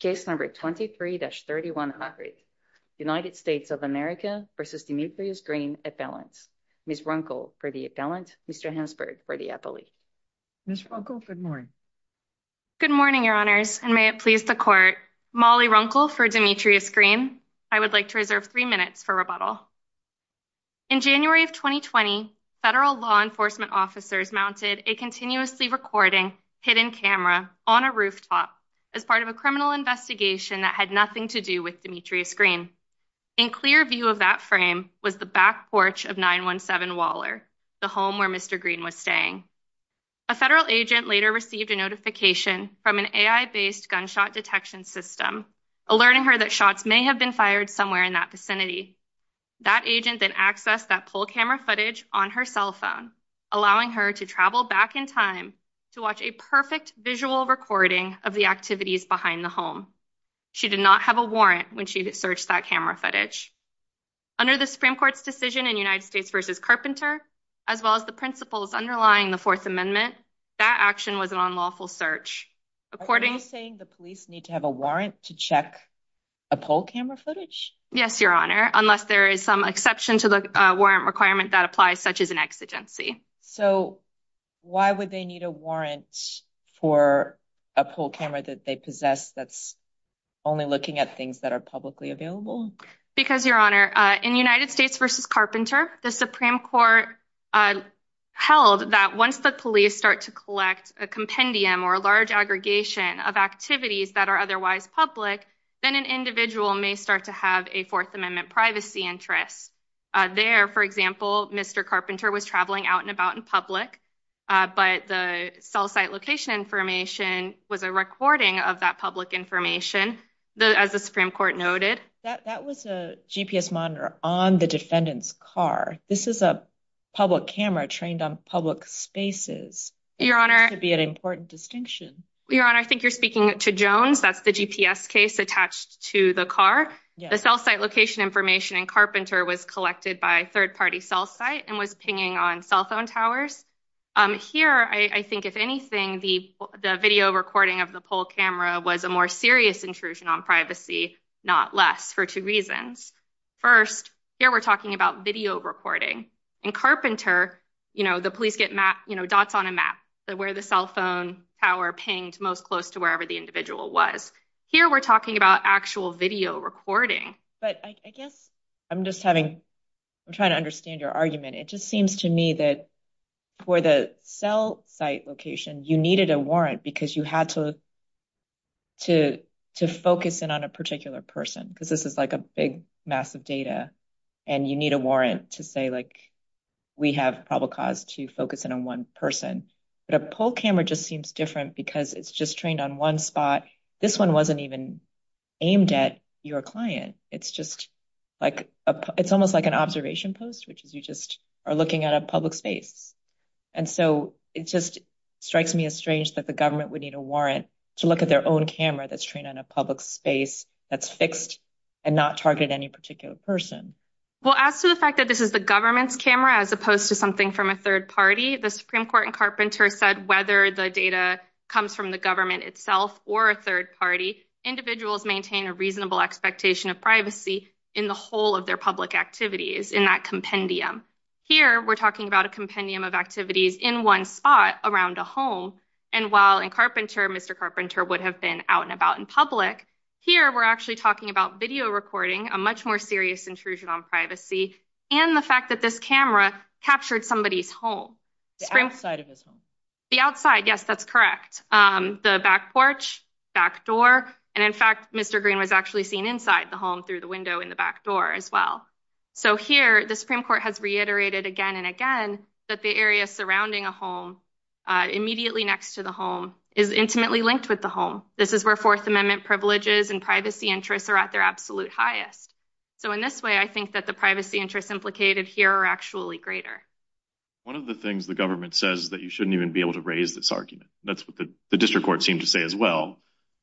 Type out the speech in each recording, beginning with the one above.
Case number 23-3100. United States of America v. Demetrius Green Appellant. Ms. Runkle for the appellant. Mr. Hansberg for the appellate. Ms. Runkle, good morning. Good morning, your honors, and may it please the court. Molly Runkle for Demetrius Green. I would like to reserve three minutes for rebuttal. In January of 2020, federal law enforcement officers mounted a continuously recording hidden camera on a rooftop as part of a criminal investigation that had nothing to do with Demetrius Green. In clear view of that frame was the back porch of 917 Waller, the home where Mr. Green was staying. A federal agent later received a notification from an AI-based gunshot detection system, alerting her that shots may have been fired somewhere in that vicinity. That agent then accessed that poll camera footage on her cell phone, allowing her to travel back in time to watch a perfect visual recording of the activities behind the home. She did not have a warrant when she searched that camera footage. Under the Supreme Court's decision in United States v. Carpenter, as well as the principles underlying the Fourth Amendment, that action was an unlawful search. Are you saying the police need to have a warrant to check a poll camera footage? Yes, your honor, unless there is some exception to the warrant requirement that applies such as an exigency. So why would they need a warrant for a poll camera that they possess that's only looking at things that are publicly available? Because your honor, in United States v. Carpenter, the Supreme Court held that once the police start to collect a compendium or a large aggregation of activities that are otherwise public, then an individual may start to have a interest. There, for example, Mr. Carpenter was traveling out and about in public, but the cell site location information was a recording of that public information, as the Supreme Court noted. That was a GPS monitor on the defendant's car. This is a public camera trained on public spaces. Your honor, I think you're speaking to Jones. That's the GPS case attached to the car. The cell site location information in Carpenter was collected by third-party cell site and was pinging on cell phone towers. Here, I think, if anything, the video recording of the poll camera was a more serious intrusion on privacy, not less, for two reasons. First, here we're talking about video recording. In Carpenter, the police get dots on a map where the cell phone tower pinged most close to wherever the individual was. Here, we're talking about actual video recording. But I guess I'm just having, I'm trying to understand your argument. It just seems to me that for the cell site location, you needed a warrant because you had to focus in on a particular person because this is like a big mass of data, and you need a warrant to say, like, we have probable cause to focus in on one person. But a poll camera just seems different because it's just trained on one spot. This one wasn't even aimed at your client. It's just like, it's almost like an observation post, which is you just are looking at a public space. And so it just strikes me as strange that the government would need a warrant to look at their own camera that's trained on a public space that's fixed and not targeted any particular person. Well, as to the fact that this is the government's camera, as opposed to something from a third party, the Supreme Court in Carpenter said whether the data comes from the government itself or a third party, individuals maintain a reasonable expectation of privacy in the whole of their public activities in that compendium. Here, we're talking about a compendium of activities in one spot around a home. And while in Carpenter, Mr. Carpenter would have been out and about in Here, we're actually talking about video recording, a much more serious intrusion on privacy, and the fact that this camera captured somebody's home. The outside. Yes, that's correct. The back porch, back door. And in fact, Mr. Green was actually seen inside the home through the window in the back door as well. So here, the Supreme Court has reiterated again and again, that the area surrounding a home immediately next to the home is intimately linked with the home. This is where Fourth Amendment privileges and privacy interests are at their absolute highest. So in this way, I think that the privacy interests implicated here are actually greater. One of the things the government says that you shouldn't even be able to raise this argument. That's what the district court seemed to say as well.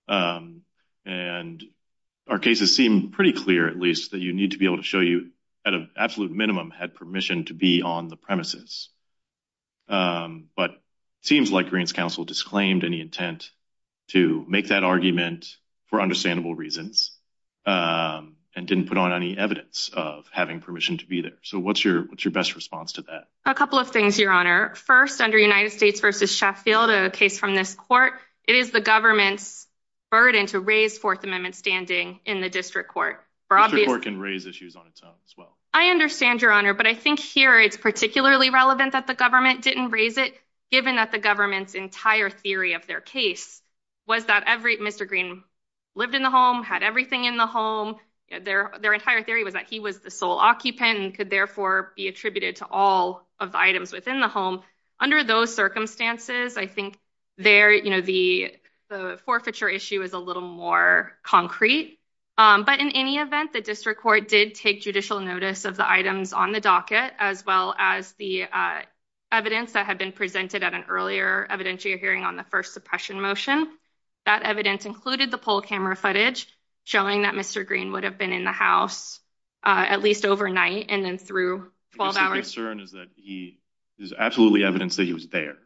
And our cases seem pretty clear, at least that you need to be able to show you at an absolute minimum had permission to be on the premises. But it seems like Green's counsel disclaimed any intent to make that argument for understandable reasons and didn't put on any evidence of having permission to be there. So what's your best response to that? A couple of things, Your Honor. First, under United States v. Sheffield, a case from this court, it is the government's burden to raise Fourth Amendment standing in the district court. The district court can raise issues on its own as well. I understand, Your Honor, but I think here it's particularly relevant that the government didn't raise it, given that the government's entire theory of their case was that Mr. Green lived in the home, had everything in the home. Their entire theory was that he was the sole occupant and could therefore be attributed to all of the items within the home. Under those circumstances, I think the forfeiture issue is a little more concrete. But in any event, the district court did take judicial notice of the items on the docket, as well as the evidence that had been presented at an earlier evidentiary hearing on the first suppression motion. That evidence included the poll camera footage showing that Mr. Green would have been in the house at least overnight and then through 12 hours. The concern is that there's absolutely evidence that he was there.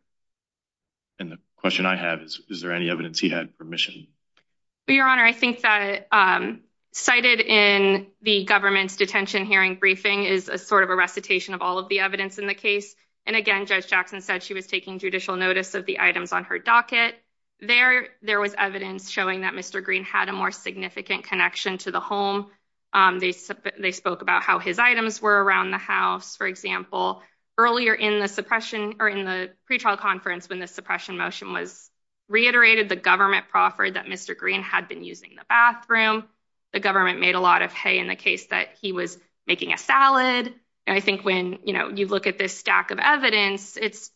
And the question I have is, is there any evidence he had permission? Your Honor, I think that cited in the government's detention hearing briefing is a sort of a recitation of all of the evidence in the case. And again, Judge Jackson said she was taking judicial notice of the items on her docket. There was evidence showing that Mr. Green had a more significant connection to the home. They spoke about how his items were around the house, for example. Earlier in the pretrial conference when the suppression motion was reiterated, the government proffered that Mr. Green had been using the bathroom. The government made a lot of hay in the case that he was making a salad. And I think when you look at this stack of evidence, it's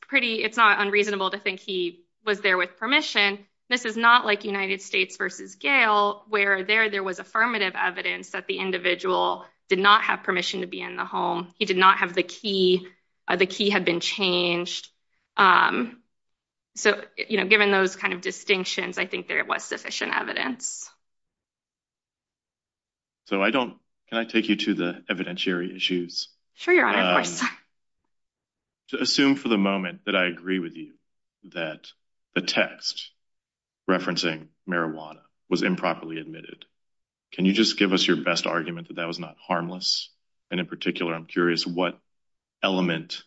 not unreasonable to think he was there with permission. This is not like United States versus Gale, where there was affirmative evidence that the individual did not have permission to be in the home. He did not have the key. The key had been changed. So given those kind of distinctions, I think there was sufficient evidence. So can I take you to the evidentiary issues? Sure, Your Honor, of course. To assume for the moment that I agree with you that the text referencing marijuana was improperly admitted, can you just give us your best argument that that was not harmless? And in particular, I'm curious what element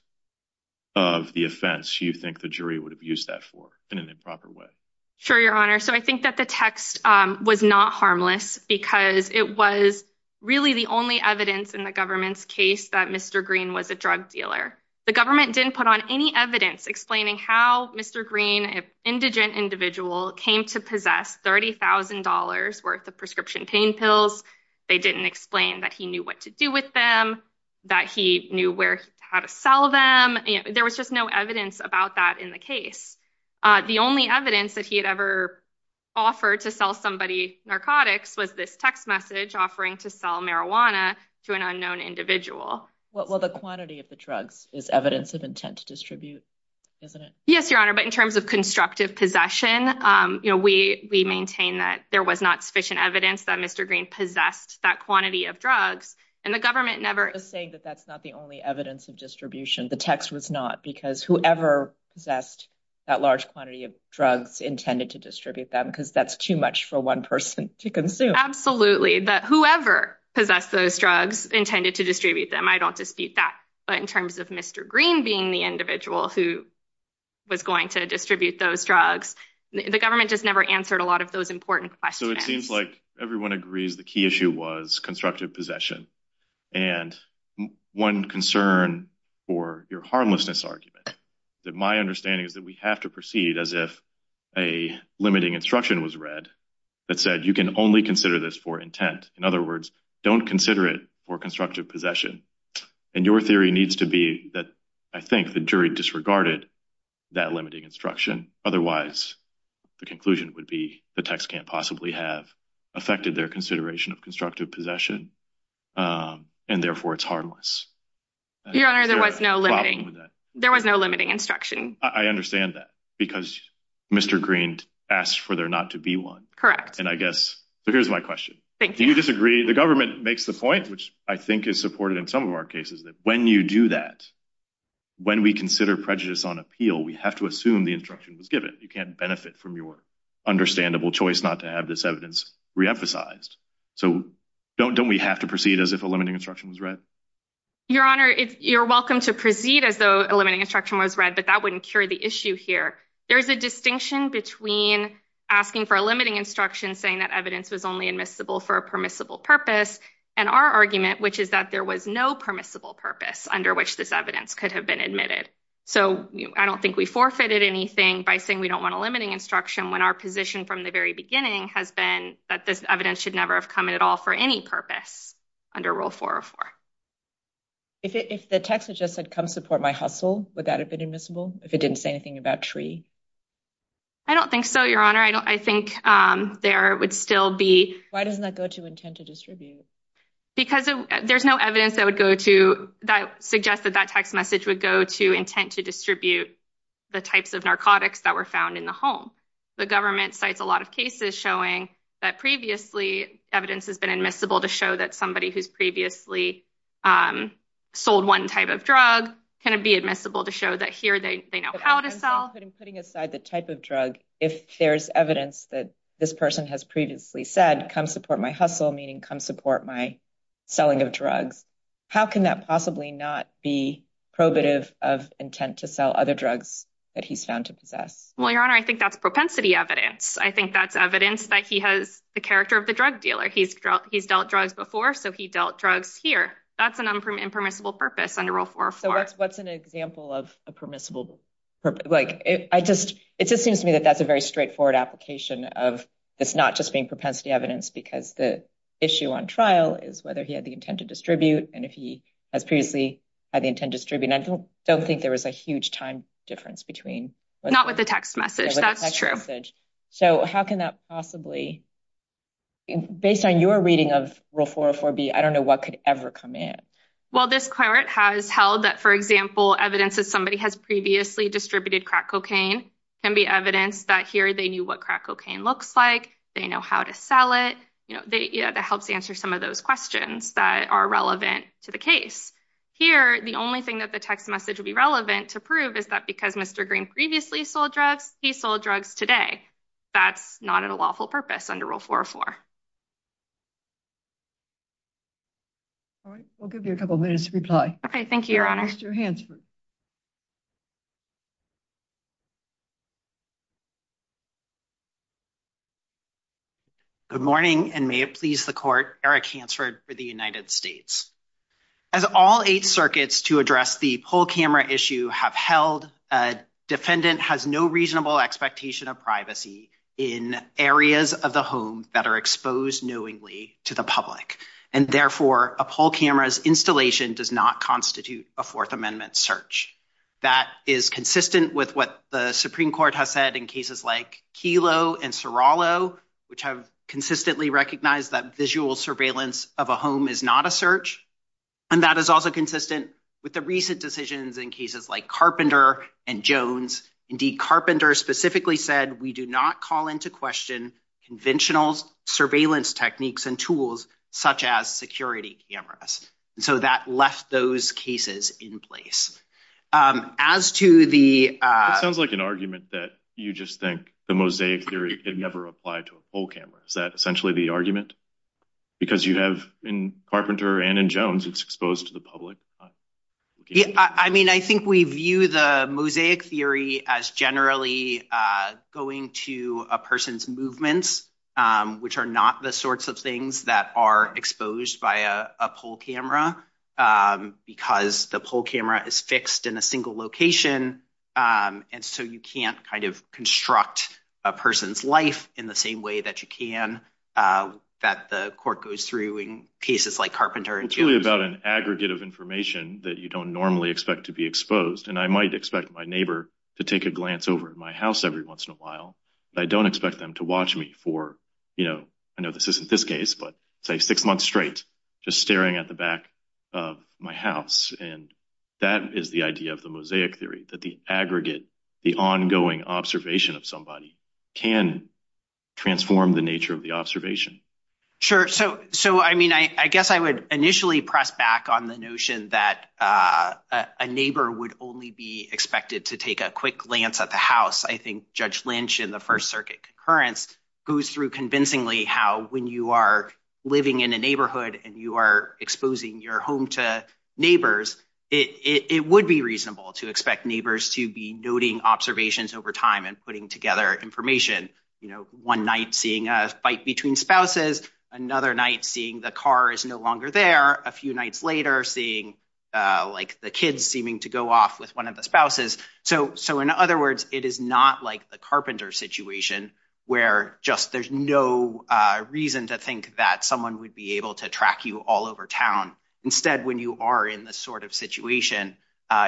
of the offense you think the jury would have used that for in an improper way? Sure, Your Honor. So I think that the text was not harmless because it was really the only evidence in the government's case that Mr. Green was a drug dealer. The government didn't put on any evidence explaining how Mr. Green, an indigent individual, came to possess $30,000 worth of prescription pain pills. They didn't explain that he knew what to do with them, that he knew how to sell them. There was just no evidence about that in the case. The only evidence that he had ever offered to sell somebody narcotics was this text message offering to sell marijuana to an unknown individual. Well, the quantity of the drugs is evidence of intent to distribute, isn't it? Yes, Your Honor, but in terms of constructive possession, we maintain that there was not sufficient evidence that Mr. Green possessed that quantity of drugs, and the government never... I'm just saying that that's not the only evidence of distribution. The text was not, because whoever possessed that large quantity of drugs intended to distribute them, because that's too much for one person to consume. Absolutely, that whoever possessed those drugs intended to distribute them. I don't dispute that, but in terms of Mr. Green being the individual who was going to distribute those drugs, the government just never answered a lot of those important questions. So it seems like everyone agrees the key issue was constructive possession, and one concern for your harmlessness argument, that my understanding is that we have to proceed as if a limiting instruction was read that said you can only consider this for intent. In other words, don't consider it for constructive possession, and your theory needs to be that I think the jury disregarded that limiting instruction. Otherwise, the conclusion would be the text can't possibly have affected their consideration of constructive possession, and therefore it's harmless. Your Honor, there was no limiting instruction. I understand that, because Mr. Green asked for there not to be one. Correct. And I guess, so here's my question. Do you disagree? The government makes the point, which I think is supported in some of our cases, that when you do that, when we consider prejudice on appeal, we have to assume the instruction was given. You can't benefit from your understandable choice not to have this evidence re-emphasized. So don't we have to proceed as if a limiting instruction was read? Your Honor, you're welcome to proceed as though a limiting instruction was read, but that wouldn't cure the issue here. There's a distinction between asking for a limiting instruction, saying that evidence was only admissible for a permissible purpose, and our argument, which is that there was no permissible purpose under which this evidence could have been admitted. So I don't think we forfeited anything by saying we don't want a limiting instruction when our position from the very beginning has been that this evidence should never have come in at all for any purpose under Rule 404. If the text had just said, come support my hustle, would that have been admissible, if it didn't say anything about tree? I don't think so, Your Honor. I think there would still Why doesn't that go to intent to distribute? Because there's no evidence that would go to that suggests that that text message would go to intent to distribute the types of narcotics that were found in the home. The government cites a lot of cases showing that previously evidence has been admissible to show that somebody who's previously sold one type of drug can be admissible to show that here they know how to sell. I'm putting aside the type of drug if there's evidence that this person has previously said, come support my hustle, meaning come support my selling of drugs. How can that possibly not be probative of intent to sell other drugs that he's found to possess? Well, Your Honor, I think that's propensity evidence. I think that's evidence that he has the character of the drug dealer. He's dealt drugs before, so he dealt drugs here. That's an impermissible purpose under Rule 404. What's an example of a permissible purpose? It just seems to me that that's a very straightforward application of this not just being propensity evidence because the issue on trial is whether he had the intent to distribute, and if he has previously had the intent to distribute. I don't think there was a huge time difference between. Not with the text message, that's true. So how can that possibly, based on your reading of Rule 404b, I don't know what could ever come in. Well, this court has held that, for example, evidence that somebody has previously distributed crack cocaine can be evidence that here they knew what crack cocaine looks like. They know how to sell it. You know, that helps answer some of those questions that are relevant to the case. Here, the only thing that the text message would be relevant to prove is that because Mr. Green previously sold drugs, he sold drugs today. That's not a lawful purpose under Rule 404. All right, we'll give you a couple minutes to reply. Okay, thank you, Your Honor. Mr. Hansford. Good morning, and may it please the Court, Eric Hansford for the United States. As all eight circuits to address the poll camera issue have held, a defendant has no expectation of privacy in areas of the home that are exposed knowingly to the public, and therefore a poll camera's installation does not constitute a Fourth Amendment search. That is consistent with what the Supreme Court has said in cases like Kelo and Serallo, which have consistently recognized that visual surveillance of a home is not a search, and that is also consistent with the recent decisions in cases like Carpenter and Jones. Indeed, Carpenter specifically said, we do not call into question conventional surveillance techniques and tools such as security cameras. So that left those cases in place. As to the— It sounds like an argument that you just think the mosaic theory could never apply to a poll camera. Is that essentially the argument? Because you have, in Carpenter and in Jones, it's exposed to the public. Yeah, I mean, I think we view the mosaic theory as generally going to a person's movements, which are not the sorts of things that are exposed by a poll camera, because the poll camera is fixed in a single location, and so you can't kind of construct a person's life in the same way that you can, that the court goes through in cases like Carpenter and Jones. It's really about an aggregate of information that you don't normally expect to be exposed, and I might expect my neighbor to take a glance over at my house every once in a while, but I don't expect them to watch me for, you know, I know this isn't this case, but say, six months straight, just staring at the back of my house. And that is the idea of the mosaic theory, that the aggregate, the ongoing observation of somebody can transform the observation. Sure. So, I mean, I guess I would initially press back on the notion that a neighbor would only be expected to take a quick glance at the house. I think Judge Lynch in the First Circuit concurrence goes through convincingly how, when you are living in a neighborhood and you are exposing your home to neighbors, it would be reasonable to expect neighbors to be noting observations over time and putting together information. You know, one night seeing a fight between spouses, another night seeing the car is no longer there, a few nights later seeing, like, the kids seeming to go off with one of the spouses. So, in other words, it is not like the Carpenter situation, where just there's no reason to think that someone would be able to track you all over town. Instead, when you are in this sort of situation,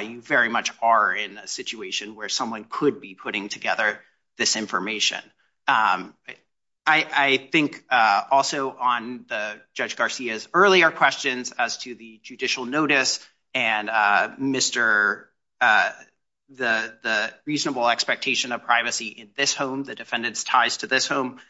you very much are in a situation where someone could be putting together this information. I think also on Judge Garcia's earlier questions as to the judicial notice and the reasonable expectation of privacy in this home, the defendant's ties to this home,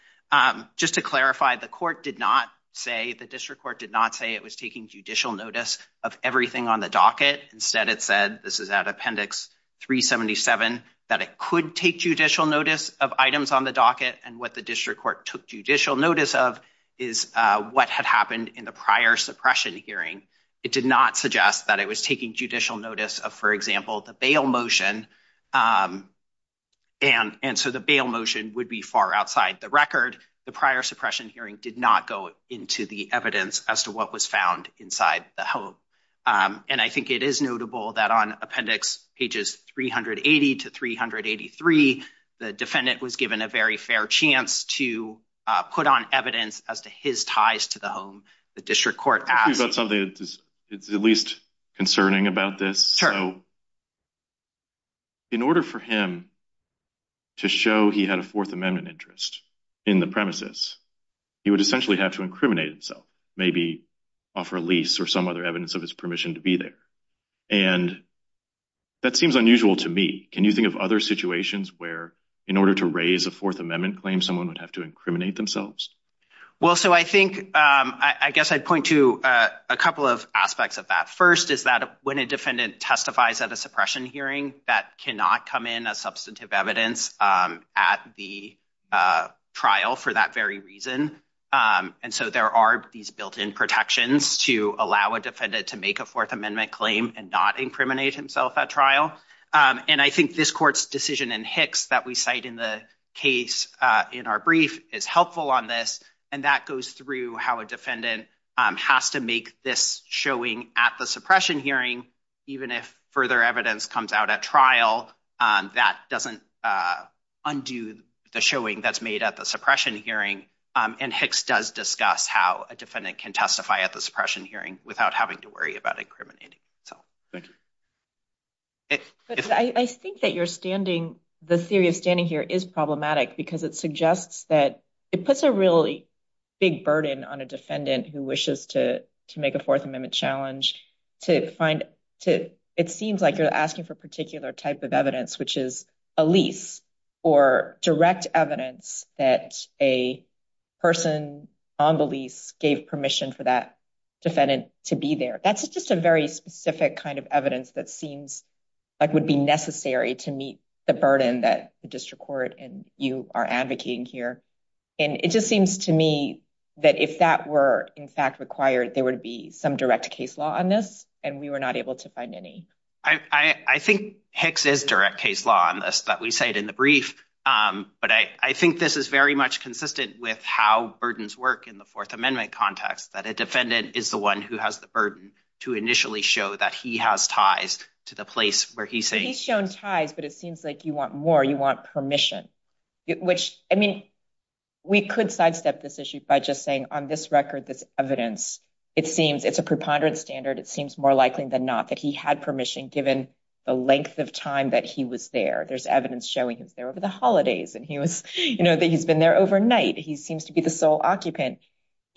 just to clarify, the court did not say, the district court did not say it was taking judicial notice of everything on the docket. Instead, it said, this is out of Appendix 377, that it could take judicial notice of items on the docket, and what the district court took judicial notice of is what had happened in the prior suppression hearing. It did not suggest that it was taking judicial notice of, for example, the bail motion, and so the bail motion would be far outside the record. The prior suppression hearing did not go into the evidence as to what was found inside the home, and I think it is notable that on Appendix pages 380 to 383, the defendant was given a very fair chance to put on evidence as to his ties to the home. The district court asked about something that is at least concerning about this. So, in order for him to show he had a Fourth Amendment interest in the premises, he would essentially have to incriminate himself, maybe offer a lease or some other evidence of his permission to be there, and that seems unusual to me. Can you think of other situations where, in order to raise a Fourth Amendment claim, someone would have to incriminate themselves? Well, so I think, I guess I'd point to a couple of aspects of that. First is that when a defendant testifies at a suppression hearing, that cannot come in as substantive evidence at the trial for that very reason, and so there are these built-in protections to allow a defendant to make a Fourth Amendment claim and not incriminate himself at trial, and I think this court's decision in Hicks that we cite in the case in our brief is helpful on this, and that goes through how a defendant has to make this showing at the suppression hearing, even if further evidence comes out at trial, that doesn't undo the showing that's made at the suppression hearing, and Hicks does discuss how a defendant can testify at the suppression hearing without having to worry about incriminating himself. I think that you're standing, the theory of standing here is problematic because it suggests that it puts a really big burden on a defendant who wishes to make a particular type of evidence, which is a lease or direct evidence that a person on the lease gave permission for that defendant to be there. That's just a very specific kind of evidence that seems like would be necessary to meet the burden that the district court and you are advocating here, and it just seems to me that if that were in fact required, there would be some direct case law on this, and we were not able to find any. I think Hicks is direct case law on this that we cite in the brief, but I think this is very much consistent with how burdens work in the Fourth Amendment context, that a defendant is the one who has the burden to initially show that he has ties to the place where he's saying. He's shown ties, but it seems like you want more, you want permission, which, I mean, we could sidestep this issue by just saying on this record, this evidence, it seems it's a preponderance standard. It seems more likely than not that he had permission given the length of time that he was there. There's evidence showing he was there over the holidays, and he was, you know, that he's been there overnight. He seems to be the sole occupant.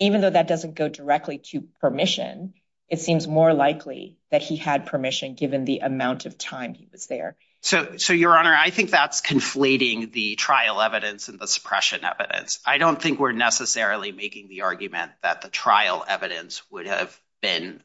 Even though that doesn't go directly to permission, it seems more likely that he had permission given the amount of time he was there. So, your honor, I think that's conflating the trial evidence and the suppression evidence. I don't think we're necessarily making the argument that the trial evidence would have been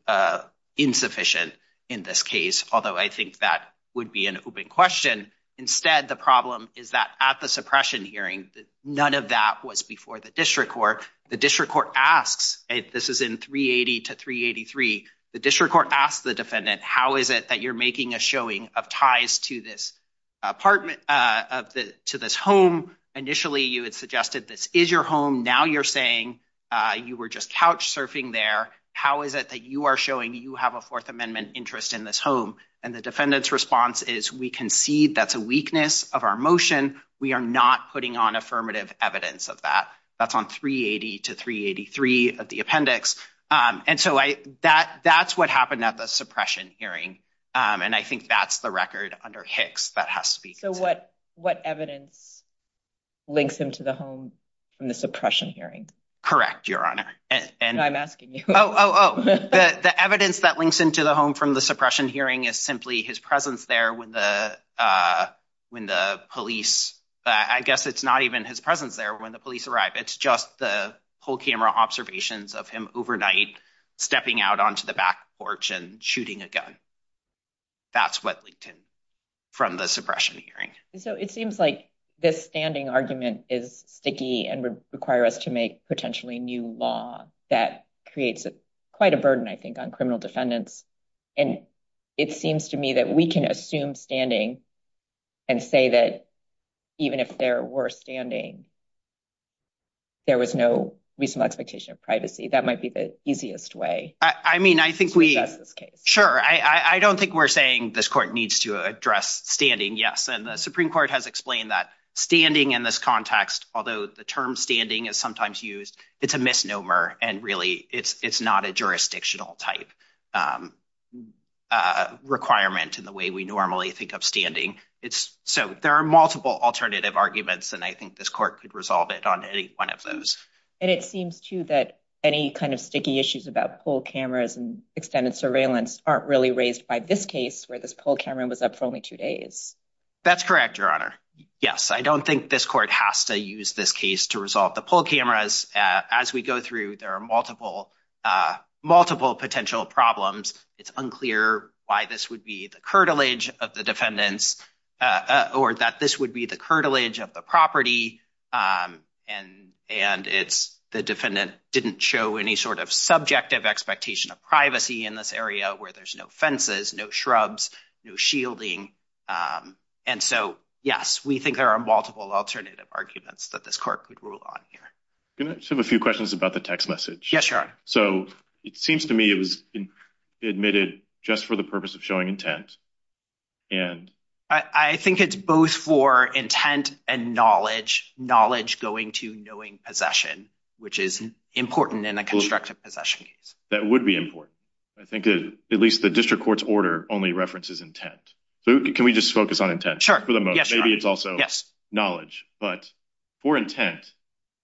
insufficient in this case, although I think that would be an open question. Instead, the problem is that at the suppression hearing, none of that was before the district court. The district court asks, this is in 380 to 383, the district court asks the defendant, how is it that you're making a showing of ties to this apartment, to this home? Initially, you had suggested this is your home. Now you're saying you were just couch surfing there. How is it that you are showing you have a Fourth Amendment interest in this home? And the defendant's response is, we concede that's a weakness of our motion. We are not putting on affirmative evidence of that. That's on 380 to 383 of the appendix. And so, that's what happened at the suppression hearing. And I think that's the record under Hicks that has to be considered. What evidence links him to the home from the suppression hearing? Correct, Your Honor. I'm asking you. The evidence that links him to the home from the suppression hearing is simply his presence there when the police, I guess it's not even his presence there when the police arrive. It's just the whole camera observations of him overnight, stepping out onto the back porch and shooting a gun. That's what linked him from the suppression hearing. So, it seems like this standing argument is sticky and would require us to make potentially new law that creates quite a burden, I think, on criminal defendants. And it seems to me that we can assume standing and say that even if there were standing, there was no reasonable expectation of privacy. That might be the easiest way to address this case. Sure. I don't think we're saying this court needs to address standing. Yes. And the Supreme Court has explained that standing in this context, although the term standing is sometimes used, it's a misnomer. And really, it's not a jurisdictional type requirement in the way we normally think of standing. So, there are multiple alternative arguments. And I think this court could resolve it on any one of those. And it seems, too, that any kind of sticky issues about poll cameras and extended surveillance aren't really raised by this case where this poll camera was up for only two days. That's correct, Your Honor. Yes. I don't think this court has to use this case to resolve the poll cameras. As we go through, there are multiple potential problems. It's unclear why this would be the curtilage of the defendants or that this would be the curtilage of the property and it's the defendant didn't show any sort of subjective expectation of privacy in this area where there's no fences, no shrubs, no shielding. And so, yes, we think there are multiple alternative arguments that this court could rule on here. Can I just have a few questions about the text message? Yes, Your Honor. So, it seems to me it was admitted just for the purpose of showing intent and... I think it's both for intent and knowledge, knowledge going to knowing possession, which is important in a constructive possession case. That would be important. I think at least the district court's order only references intent. Can we just focus on intent for the moment? Maybe it's also knowledge. But for intent,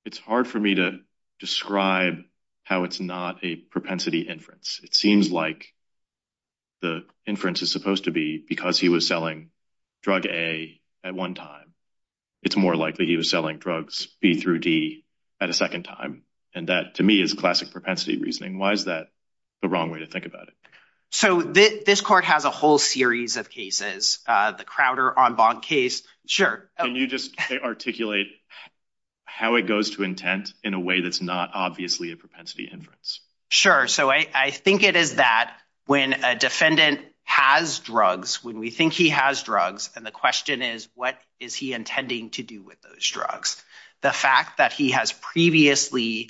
it's hard for me to describe how it's not a propensity inference. It seems like the inference is supposed to be because he was selling drug A at one time. It's more likely he was selling drugs B through D at a second time. And that, to me, is classic propensity reasoning. Why is that the wrong way to think about it? So, this court has a whole series of cases, the Crowder en banc case. Sure. Can you just articulate how it goes to intent in a way that's not obviously a propensity inference? Sure. So, I think it is that when a defendant has drugs, when we think he has drugs, and the question is, what is he intending to do with those drugs? The fact that he has previously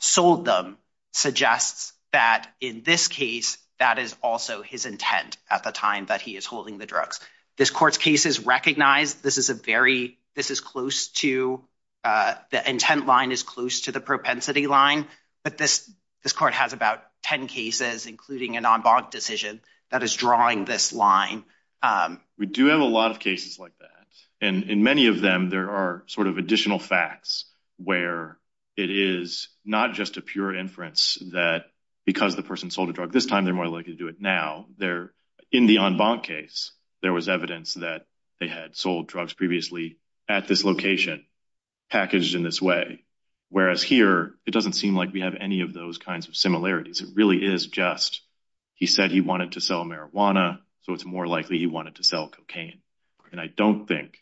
sold them suggests that in this case, that is also his intent at the time that he is holding the drugs. This court's case is recognized. The intent line is close to the propensity line. But this court has about 10 cases, including an en banc decision, that is drawing this line. We do have a lot of cases like that. And in many of them, there are additional facts where it is not just a pure inference that because the person sold a drug this time, they're more likely to do it now. In the en banc case, there was evidence that they had sold drugs previously at this location, packaged in this way. Whereas here, it doesn't seem like we have any of those kinds of similarities. It really is just, he said he wanted to sell marijuana, so it's more likely he wanted to sell cocaine. And I don't think,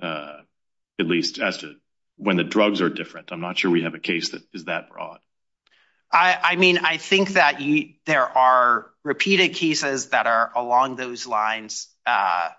at least as to when the drugs are different, I'm not sure we have a case that is that broad. I mean, I think that there are repeated cases that are along those lines that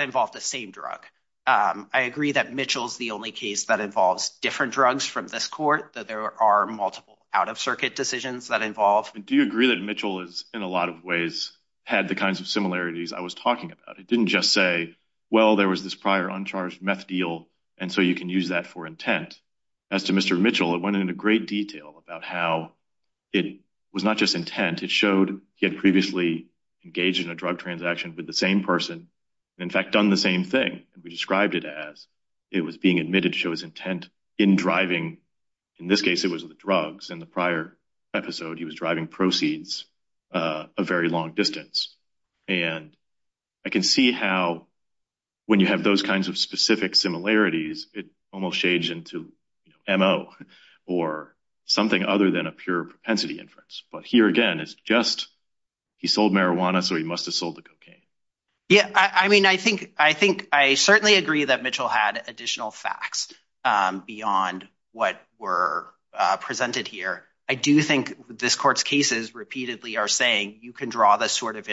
involve the same drug. I agree that Mitchell's the only case that involves different drugs from this court, that there are multiple out-of-circuit decisions that involve. Do you agree that Mitchell is, in a lot of ways, had the kinds of similarities I was talking about? It didn't just say, well, there was this prior uncharged meth deal, and so you can use that for intent. As to Mr. Mitchell, it went into great detail about how it was not just intent, it showed he had previously engaged in a drug transaction with the same person, and in fact done the same thing. We described it as it was being admitted to show his intent in driving, in this case, it was the drugs. In the prior episode, he was driving proceeds a very long distance. And I can see how, when you have those kinds of specific similarities, it almost shades into MO, or something other than a pure propensity inference. But here again, it's just he sold marijuana, so he must have sold the cocaine. Yeah, I mean, I think I certainly agree that Mitchell had additional facts beyond what were presented here. I do think this court's cases repeatedly are saying you can draw this sort of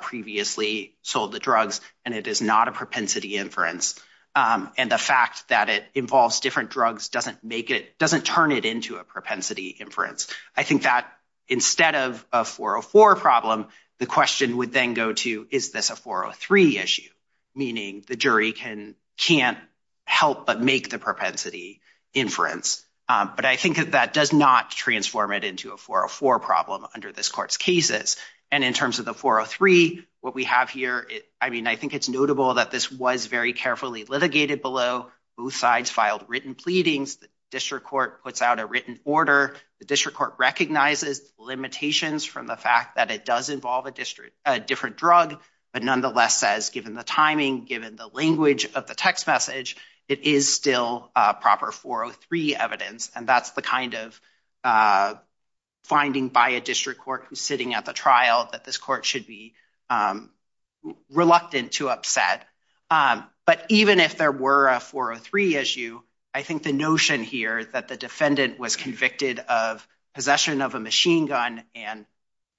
previously sold the drugs, and it is not a propensity inference. And the fact that it involves different drugs doesn't make it, doesn't turn it into a propensity inference. I think that instead of a 404 problem, the question would then go to, is this a 403 issue? Meaning the jury can, can't help but make the propensity inference. But I think that that does not transform it into a problem under this court's cases. And in terms of the 403, what we have here, I mean, I think it's notable that this was very carefully litigated below. Both sides filed written pleadings. The district court puts out a written order. The district court recognizes limitations from the fact that it does involve a district, a different drug, but nonetheless says, given the timing, given the language of the text message, it is still a proper 403 evidence. And that's the kind of finding by a district court who's sitting at the trial that this court should be reluctant to upset. But even if there were a 403 issue, I think the notion here that the defendant was convicted of possession of a machine gun and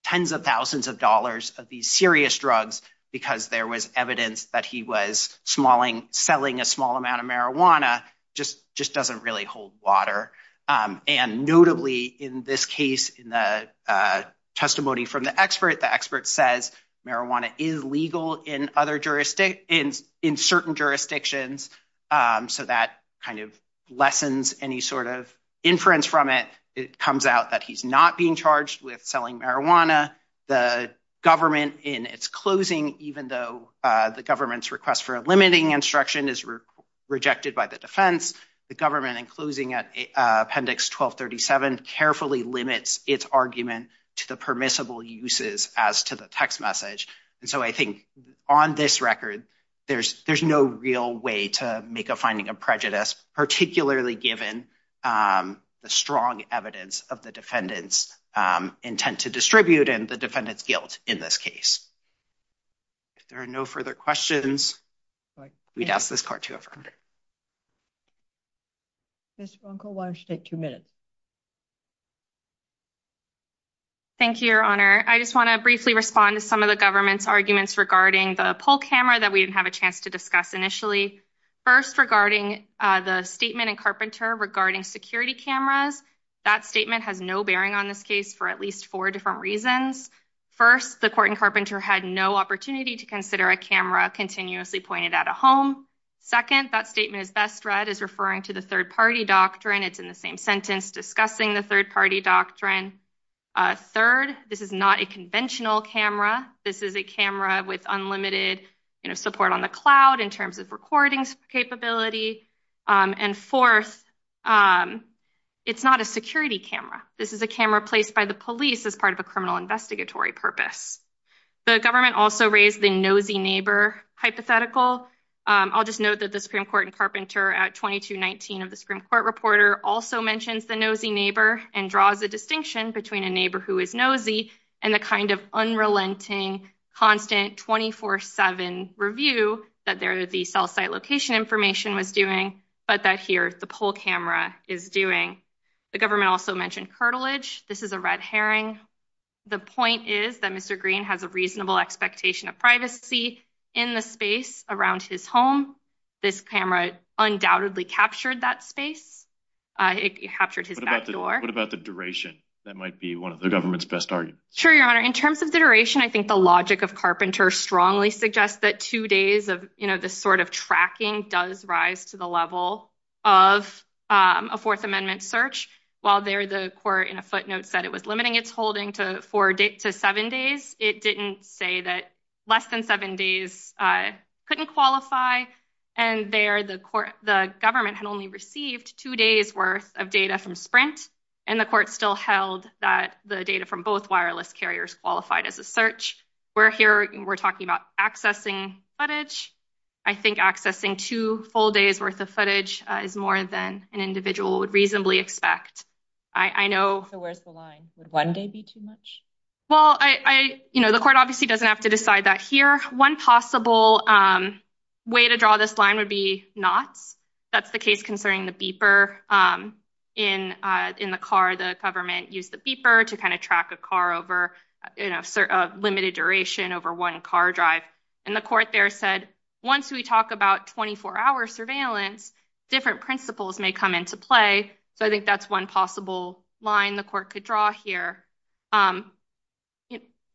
tens of thousands of dollars of these serious drugs, because there was evidence that he was selling a small amount of marijuana, just doesn't really hold water. And notably in this case, in the testimony from the expert, the expert says marijuana is legal in other jurisdictions, in certain jurisdictions. So that kind of lessens any sort of inference from it. It comes out that he's not being charged with selling marijuana. The government in its closing, even though the government's request for a limiting instruction is rejected by the defense, the government in closing at appendix 1237 carefully limits its argument to the permissible uses as to the text message. And so I think on this record, there's no real way to make a finding of prejudice, particularly given the strong evidence of the defendant's intent to distribute and the defendant's guilt in this case. If there are no further questions, we'd ask this court to affirm. Mr. Bronco, why don't you take two minutes? Thank you, Your Honor. I just want to briefly respond to some of the government's arguments regarding the poll camera that we didn't have a chance to discuss initially. First, regarding the statement in Carpenter regarding security cameras, that statement has no bearing on this reasons. First, the court in Carpenter had no opportunity to consider a camera continuously pointed at a home. Second, that statement is best read as referring to the third-party doctrine. It's in the same sentence discussing the third-party doctrine. Third, this is not a conventional camera. This is a camera with unlimited support on the cloud in terms of recording capability. And fourth, it's not a security camera. This is a camera placed by police as part of a criminal investigatory purpose. The government also raised the nosy neighbor hypothetical. I'll just note that the Supreme Court in Carpenter at 2219 of the Supreme Court reporter also mentions the nosy neighbor and draws a distinction between a neighbor who is nosy and the kind of unrelenting, constant, 24-7 review that the cell site location information was doing, but that here the poll camera is doing. The government also mentioned cartilage. This is a red herring. The point is that Mr. Green has a reasonable expectation of privacy in the space around his home. This camera undoubtedly captured that space. It captured his back door. What about the duration? That might be one of the government's best arguments. Sure, Your Honor. In terms of the duration, I think the logic of Carpenter strongly suggests that two days of this sort of tracking does rise to the level of a Fourth Amendment search. While the court in a footnote said it was limiting its holding to seven days, it didn't say that less than seven days couldn't qualify. There, the government had only received two days' worth of data from Sprint, and the court still held that the data from both wireless carriers qualified as a search. Here, we're talking about accessing footage. I think accessing two full days' worth of footage is more than an individual would reasonably expect. Where's the line? Would one day be too much? The court obviously doesn't have to decide that here. One possible way to draw this line would be not. That's the case concerning the beeper in the car. The government used the beeper to track a car over a limited duration over one car drive. The court there said, once we talk about 24-hour surveillance, different principles may come into play. So I think that's one possible line the court could draw here.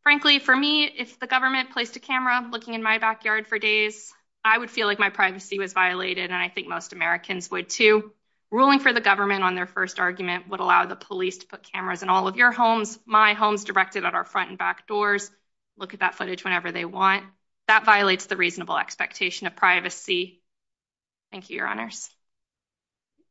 Frankly, for me, if the government placed a camera looking in my backyard for days, I would feel like my privacy was violated, and I think most Americans would, too. Ruling for the government on their first argument would allow the police to put cameras in all of your homes, my homes directed at our front and back doors, look at that footage whenever they want. That violates the reasonable expectation of privacy. Thank you, Your Honors.